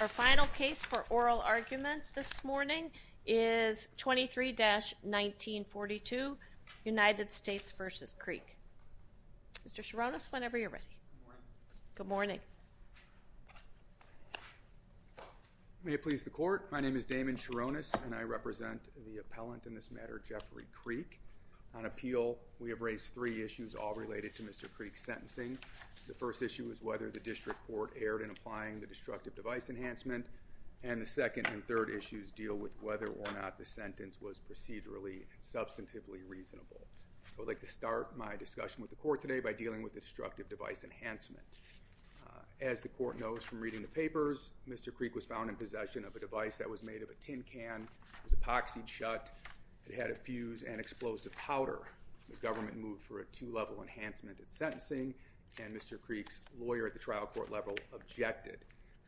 Our final case for oral argument this morning is 23-1942 United States v. Creek. Mr. Sharonis, whenever you're ready. Good morning. May it please the court, my name is Damon Sharonis and I represent the appellant in this matter Jeffrey Creek. On appeal we have raised three issues all related to Mr. Creek's applying the destructive device enhancement and the second and third issues deal with whether or not the sentence was procedurally substantively reasonable. I would like to start my discussion with the court today by dealing with the destructive device enhancement. As the court knows from reading the papers, Mr. Creek was found in possession of a device that was made of a tin can, was epoxied shut, it had a fuse and explosive powder. The government moved for a two-level enhancement at sentencing and Mr. Creek's lawyer at the time objected.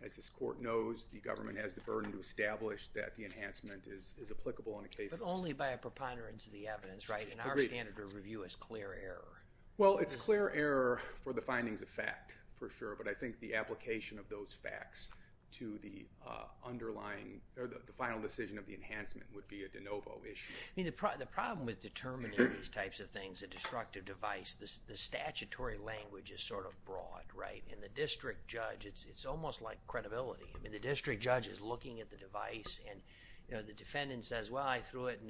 As this court knows, the government has the burden to establish that the enhancement is applicable in a case. But only by a preponderance of the evidence, right? And our standard of review is clear error. Well it's clear error for the findings of fact, for sure, but I think the application of those facts to the underlying or the final decision of the enhancement would be a de novo issue. I mean the problem with determining these types of things, a destructive device, the statutory language is sort of broad, right? In the district judge, it's almost like credibility. I mean the district judge is looking at the device and the defendant says, well, I threw it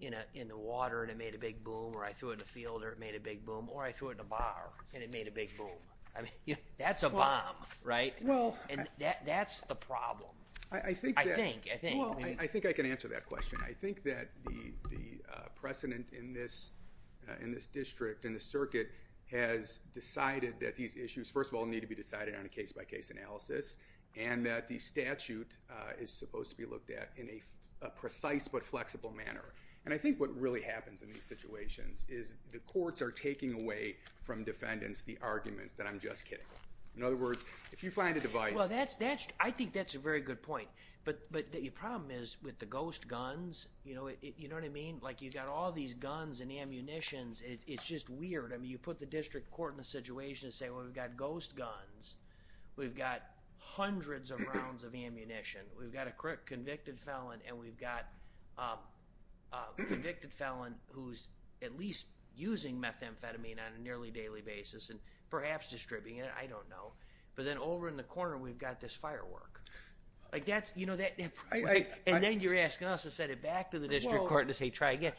in the water and it made a big boom or I threw it in the field and it made a big boom or I threw it in a bar and it made a big boom. That's a bomb, right? That's the problem. I think I can answer that question. I think that the precedent in this district and the circuit has decided that these issues, first of all, need to be decided on a case-by-case analysis and that the statute is supposed to be looked at in a precise but flexible manner. And I think what really happens in these situations is the courts are taking away from defendants the arguments that I'm just kidding. In other words, if you find a device... Well that's, I think that's a very good point, but your problem is with the ghost guns, you know, you know what I mean? Like you've got all these guns and the ammunitions, it's just weird. I mean you put the district court in a ghost guns, we've got hundreds of rounds of ammunition, we've got a convicted felon, and we've got a convicted felon who's at least using methamphetamine on a nearly daily basis and perhaps distributing it, I don't know. But then over in the corner we've got this firework. Like that's, you know, that... And then you're asking us to send it back to the district court to say try again.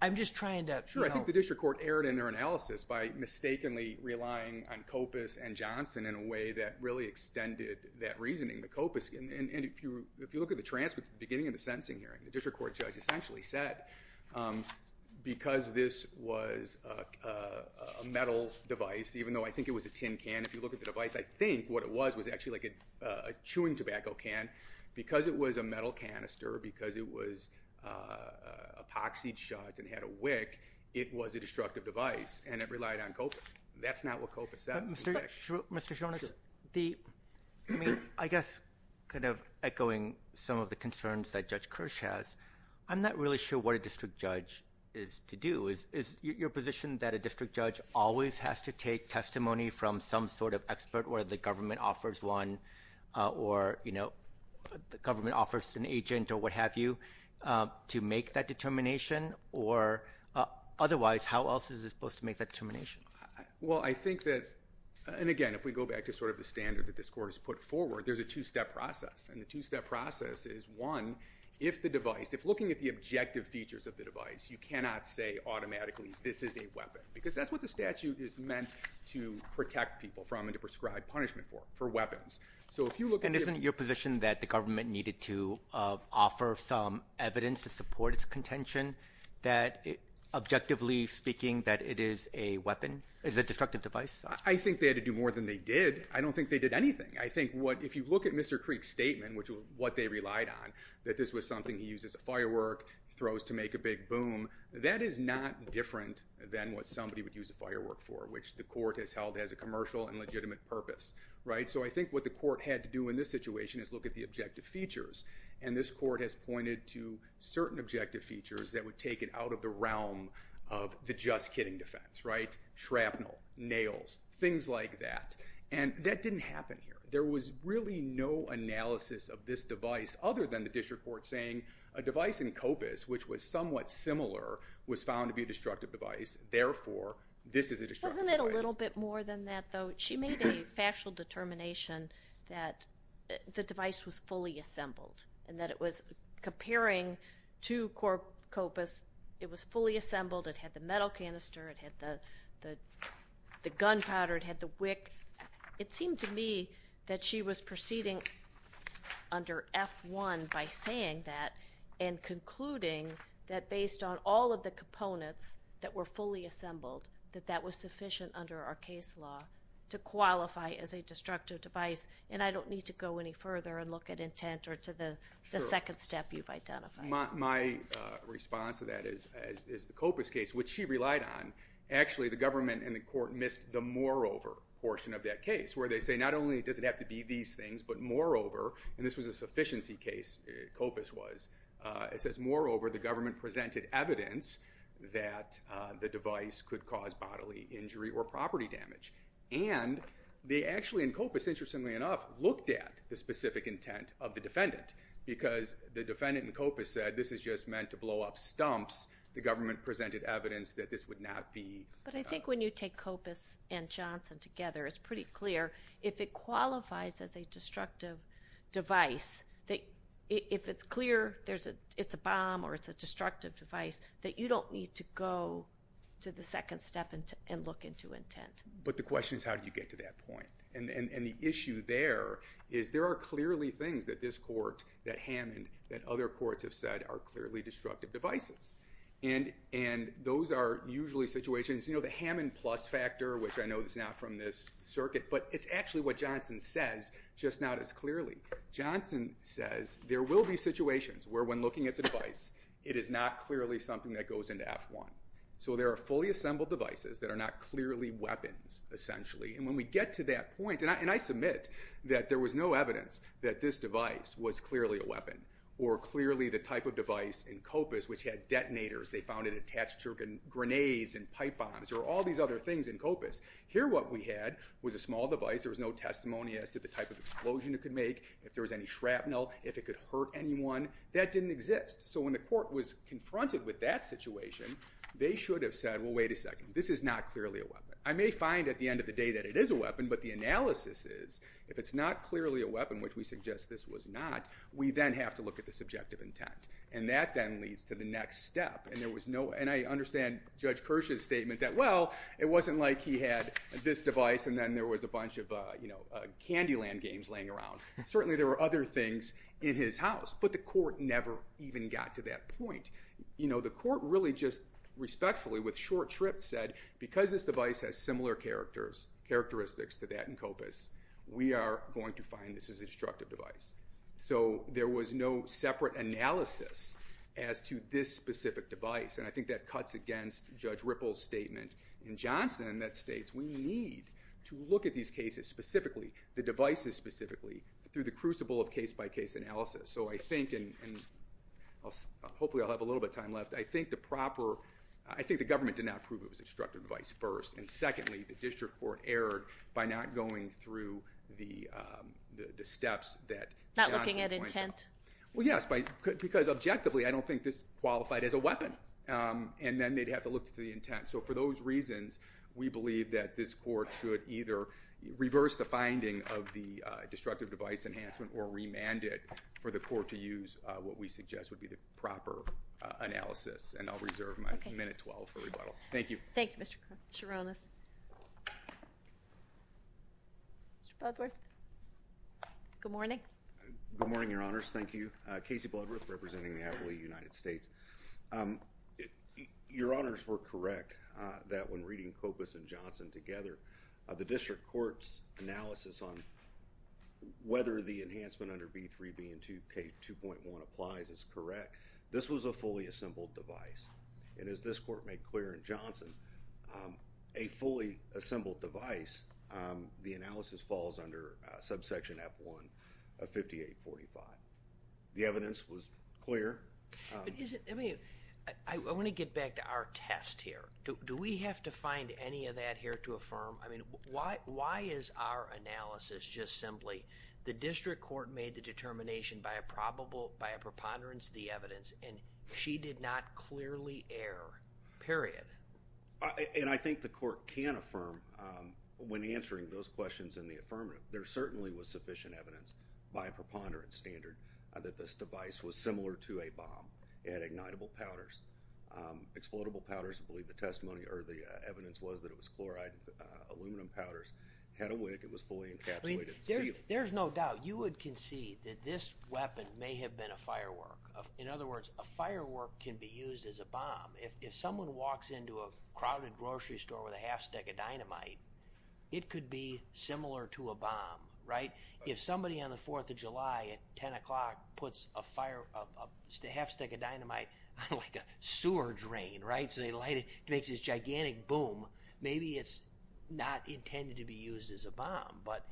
I'm just trying to... Sure, I think the district court erred in their analysis by mistakenly relying on COPUS and Johnson in a way that really extended that reasoning. The COPUS, and if you look at the transcript at the beginning of the sentencing hearing, the district court judge essentially said because this was a metal device, even though I think it was a tin can, if you look at the device I think what it was was actually like a chewing tobacco can, because it was a metal canister, because it was epoxied shut and had a wick, it was a destructive device and it relied on COPUS. That's not what COPUS says. Mr. Jonas, I guess kind of echoing some of the concerns that Judge Kirsch has, I'm not really sure what a district judge is to do. Is your position that a district judge always has to take testimony from some sort of expert where the government offers one or, you know, the government offers an agent or what have you to make that determination, or otherwise how else is it supposed to make that determination? Well I think that, and again if we go back to sort of the standard that this court has put forward, there's a two-step process and the two-step process is one, if the device, if looking at the objective features of the device, you cannot say automatically this is a weapon, because that's what the statute is meant to protect people from and to prescribe punishment for, for weapons. So if you look... And isn't your position that the government needed to offer some evidence to support its contention that, objectively speaking, that it is a weapon, it's a destructive device? I think they had to do more than they did. I don't think they did anything. I think what, if you look at Mr. Creek's statement, which was what they relied on, that this was something he used as a firework, throws to make a big boom, that is not different than what somebody would use a firework for, which the court has held as a commercial and legitimate purpose, right? So I think what the court had to do in this situation is look at the objective features and this court has pointed to certain objective features that would take it out of the realm of the just-kidding defense, right? Shrapnel, nails, things like that. And that didn't happen here. There was really no analysis of this device other than the district court saying a device in COPUS, which was somewhat similar, was found to be a destructive device, therefore this is a destructive device. Wasn't it a little bit more than that, though? She made a factual determination that the device was fully assembled and that it was, comparing to COPUS, it was fully assembled, it had the metal canister, it had the gunpowder, it had the wick. It seemed to me that she was proceeding under F-1 by saying that and concluding that based on all of the components that were fully device and I don't need to go any further and look at intent or to the second step you've identified. My response to that is the COPUS case, which she relied on, actually the government and the court missed the moreover portion of that case where they say not only does it have to be these things but moreover, and this was a sufficiency case, COPUS was, it says moreover the government presented evidence that the device could cause bodily injury or COPUS, interestingly enough, looked at the specific intent of the defendant because the defendant in COPUS said this is just meant to blow up stumps. The government presented evidence that this would not be. But I think when you take COPUS and Johnson together it's pretty clear if it qualifies as a destructive device that if it's clear there's a it's a bomb or it's a destructive device that you don't need to go to the second step and look into intent. But the issue there is there are clearly things that this court, that Hammond, that other courts have said are clearly destructive devices. And those are usually situations, you know, the Hammond plus factor, which I know it's not from this circuit, but it's actually what Johnson says just not as clearly. Johnson says there will be situations where when looking at the device it is not clearly something that goes into F-1. So there are fully assembled devices that are not clearly weapons, essentially. And when we get to that point, and I submit that there was no evidence that this device was clearly a weapon or clearly the type of device in COPUS which had detonators, they found it attached to grenades and pipe bombs or all these other things in COPUS. Here what we had was a small device, there was no testimony as to the type of explosion it could make, if there was any shrapnel, if it could hurt anyone. That didn't exist. So when the court was confronted with that situation they should have said well wait a second this is not clearly a weapon. I may find at the end of the day that it is a weapon, but the analysis is if it's not clearly a weapon, which we suggest this was not, we then have to look at the subjective intent. And that then leads to the next step. And there was no, and I understand Judge Kirsch's statement that well it wasn't like he had this device and then there was a bunch of, you know, Candyland games laying around. Certainly there were other things in his house, but the court never even got to that point. You know, the court really just respectfully with short shrift said because this device has similar characters, characteristics to that in COPUS, we are going to find this is a destructive device. So there was no separate analysis as to this specific device. And I think that cuts against Judge Ripple's statement in Johnson that states we need to look at these cases specifically, the devices specifically, through the crucible of case-by-case analysis. So I think, and hopefully I'll have a little bit time left, I think the proper, I think the government did not prove it was a destructive device first. And secondly, the district court erred by not going through the steps that Johnson pointed out. Not looking at intent? Well yes, because objectively I don't think this qualified as a weapon. And then they'd have to look to the intent. So for those reasons, we believe that this court should either reverse the finding of the destructive device enhancement or remand it for the court to use what we suggest would be the proper analysis. And I'll reserve my minute 12 for rebuttal. Thank you. Thank you Mr. Chironis. Mr. Bloodworth. Good morning. Good morning, Your Honors. Thank you. Casey Bloodworth representing the Adelaide United States. Your Honors were correct that when reading COPUS and Johnson together, the district court's analysis on whether the enhancement under B3 being 2K2.1 applies is correct. This was a fully assembled device. And as this court made clear in Johnson, a fully assembled device, the analysis falls under subsection F1 of 5845. The evidence was clear. I want to get back to our test here. Do we have to find any of that here to affirm, I mean why is our analysis just simply the district court made the determination by a probable by a preponderance the evidence and she did not clearly err, period. And I think the court can affirm when answering those questions in the affirmative. There certainly was sufficient evidence by a preponderance standard that this device was similar to a bomb. It had ignitable powders, explodable powders, I believe the testimony or the evidence was that it was chloride aluminum powders, had a wick, it was fully encapsulated. There's no doubt you would concede that this weapon may have been a firework. In other words, a firework can be used as a bomb. If someone walks into a crowded grocery store with a half stick of dynamite, it could be similar to a bomb, right? If somebody on the 4th of July at 10 o'clock puts a half stick of dynamite like a sewer drain, right? So they light it, it makes this gigantic boom. Maybe it's not intended to be used as a bomb, but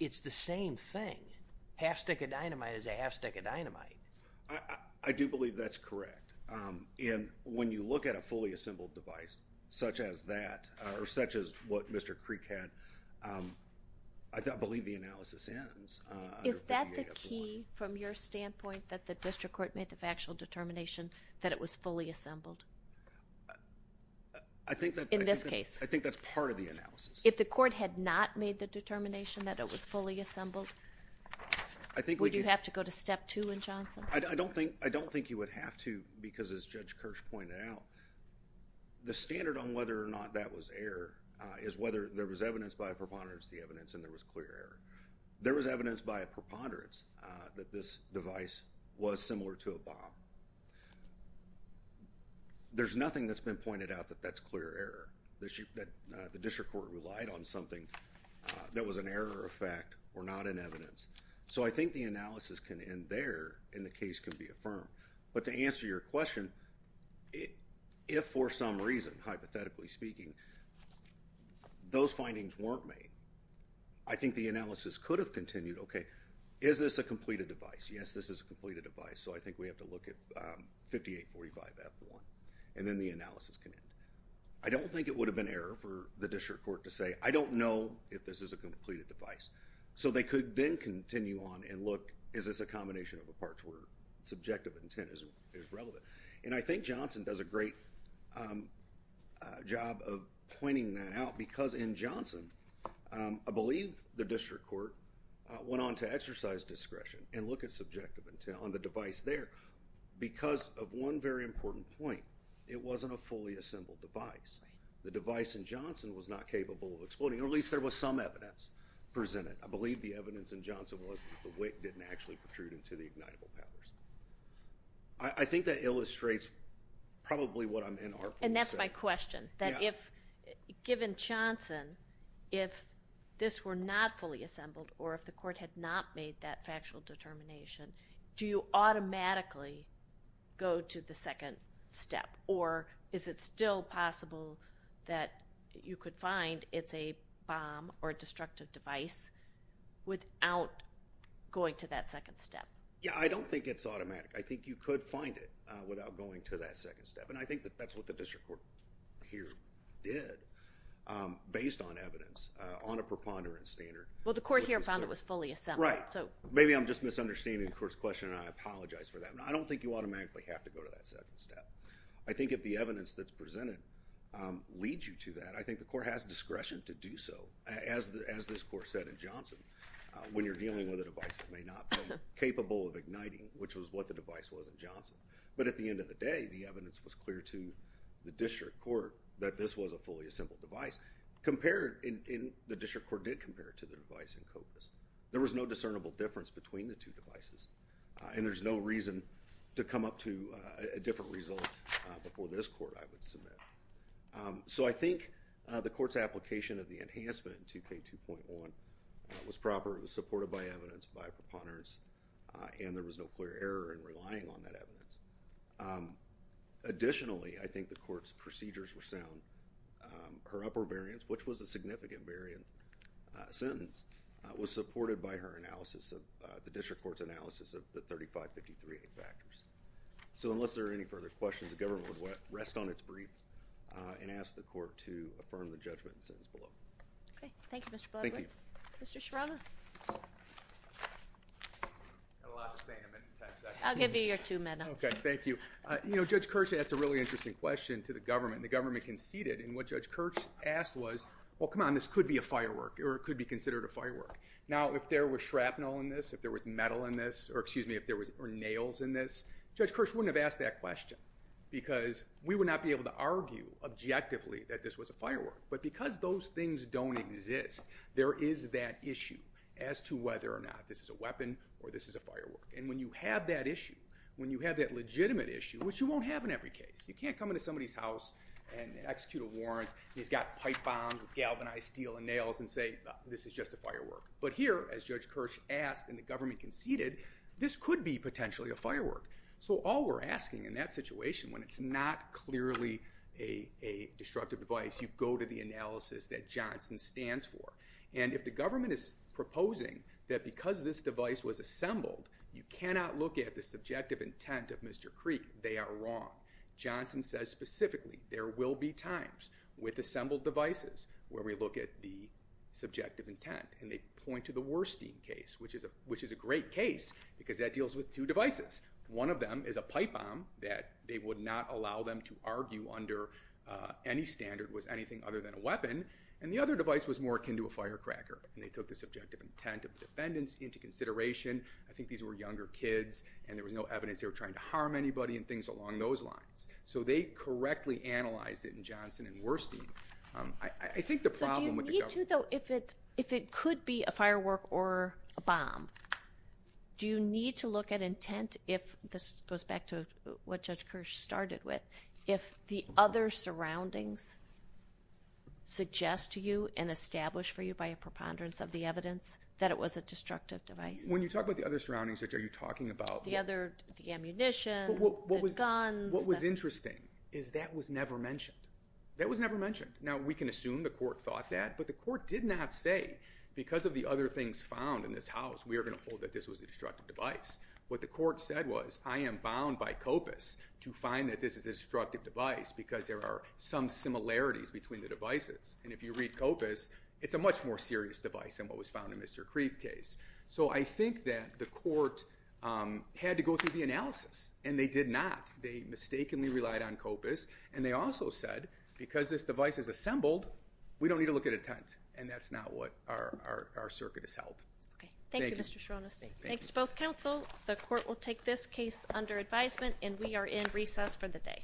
it's the same thing. Half stick of dynamite is a half stick of dynamite. I do believe that's correct. And when you look at a fully assembled device such as that or such as what Mr. Creek had, I don't believe the analysis ends. Is that the key from your standpoint that the district court made the factual determination that it was fully assembled? I think that's part of the analysis. If the court had not made the determination that it was fully assembled, would you have to go to step two in Johnson? I don't think you would have to because as Judge Kirsch pointed out, the standard on whether or not that was error is whether there was evidence by a preponderance of the evidence and there was clear error. There was evidence by a preponderance that this device was similar to a bomb. There's nothing that's been pointed out that that's clear error. The district court relied on something that was an error of fact or not in evidence. So I think the analysis can end there and the case can be affirmed. But to answer your question, if for some reason, hypothetically speaking, those findings weren't made, I think the analysis could have continued. Okay, is this a completed device? Yes, this is a completed device. So I think we have to and then the analysis can end. I don't think it would have been error for the district court to say, I don't know if this is a completed device. So they could then continue on and look is this a combination of the parts where subjective intent is relevant. And I think Johnson does a great job of pointing that out because in Johnson, I believe the district court went on to exercise discretion and look at subjective intent on the device there because of one very important point. It wasn't a fully assembled device. The device in Johnson was not capable of exploding, or at least there was some evidence presented. I believe the evidence in Johnson was that the wick didn't actually protrude into the ignitable powers. I think that illustrates probably what I'm in our and that's my question that if given Johnson, if this were not fully assembled or if the court had not made that factual determination, do you automatically go to the second step or is it still possible that you could find it's a bomb or a destructive device without going to that second step? Yeah, I don't think it's automatic. I think you could find it without going to that second step and I think that that's what the district court here did based on evidence on a preponderance standard. Well, the court here found it was fully assembled. Right, so maybe I'm just misunderstanding the court's question and I apologize for that. I don't think you automatically have to go to that second step. I think if the evidence that's presented leads you to that, I think the court has discretion to do so. As this court said in Johnson, when you're dealing with a device that may not be capable of igniting, which was what the device was in Johnson, but at the end of the day, the evidence was clear to the district court that this was a fully compared to the device in COPUS. There was no discernible difference between the two devices and there's no reason to come up to a different result before this court I would submit. So I think the court's application of the enhancement 2K2.1 was proper, it was supported by evidence, by a preponderance and there was no clear error in relying on that evidence. Additionally, I think the court's sentence was supported by her analysis of the district court's analysis of the 3553A factors. So unless there are any further questions, the government would rest on its brief and ask the court to affirm the judgment and sentence below. Okay, thank you Mr. Bloodwick. Thank you. Mr. Sharonis. I'll give you your two minutes. Okay, thank you. You know, Judge Kirch asked a really interesting question to the government. The government conceded and what Judge Kirch asked was, well come on, this could be a firework or it could be considered a firework. Now if there was shrapnel in this, if there was metal in this, or excuse me, if there were nails in this, Judge Kirch wouldn't have asked that question because we would not be able to argue objectively that this was a firework. But because those things don't exist, there is that issue as to whether or not this is a weapon or this is a firework. And when you have that issue, when you have that legitimate issue, which you won't have in every case, you can't come into somebody's house and nails and say this is just a firework. But here, as Judge Kirch asked and the government conceded, this could be potentially a firework. So all we're asking in that situation, when it's not clearly a destructive device, you go to the analysis that Johnson stands for. And if the government is proposing that because this device was assembled, you cannot look at the subjective intent of Mr. Creek, they are wrong. Johnson says specifically there will be times with the subjective intent. And they point to the Werstein case, which is a great case because that deals with two devices. One of them is a pipe bomb that they would not allow them to argue under any standard was anything other than a weapon. And the other device was more akin to a firecracker. And they took the subjective intent of defendants into consideration. I think these were younger kids and there was no evidence they were trying to harm anybody and things along those lines. So they correctly analyzed it in Johnson and Werstein. I think the need to though, if it could be a firework or a bomb, do you need to look at intent if, this goes back to what Judge Kirch started with, if the other surroundings suggest to you and establish for you by a preponderance of the evidence that it was a destructive device? When you talk about the other surroundings, are you talking about? The other, the ammunition, the guns. What was interesting is that was never mentioned. That was never mentioned. Now we can assume the court thought that, but the court did not say because of the other things found in this house we are going to hold that this was a destructive device. What the court said was I am bound by COPUS to find that this is a destructive device because there are some similarities between the devices. And if you read COPUS, it's a much more serious device than what was found in Mr. Kreef's case. So I think that the court had to go through the analysis and they did not. They mistakenly relied on COPUS and they also said because this device is assembled, we don't need to look at a tent. And that's not what our circuit has held. Okay, thank you Mr. Shronis. Thanks to both counsel. The court will take this case under advisement and we are in recess for the day.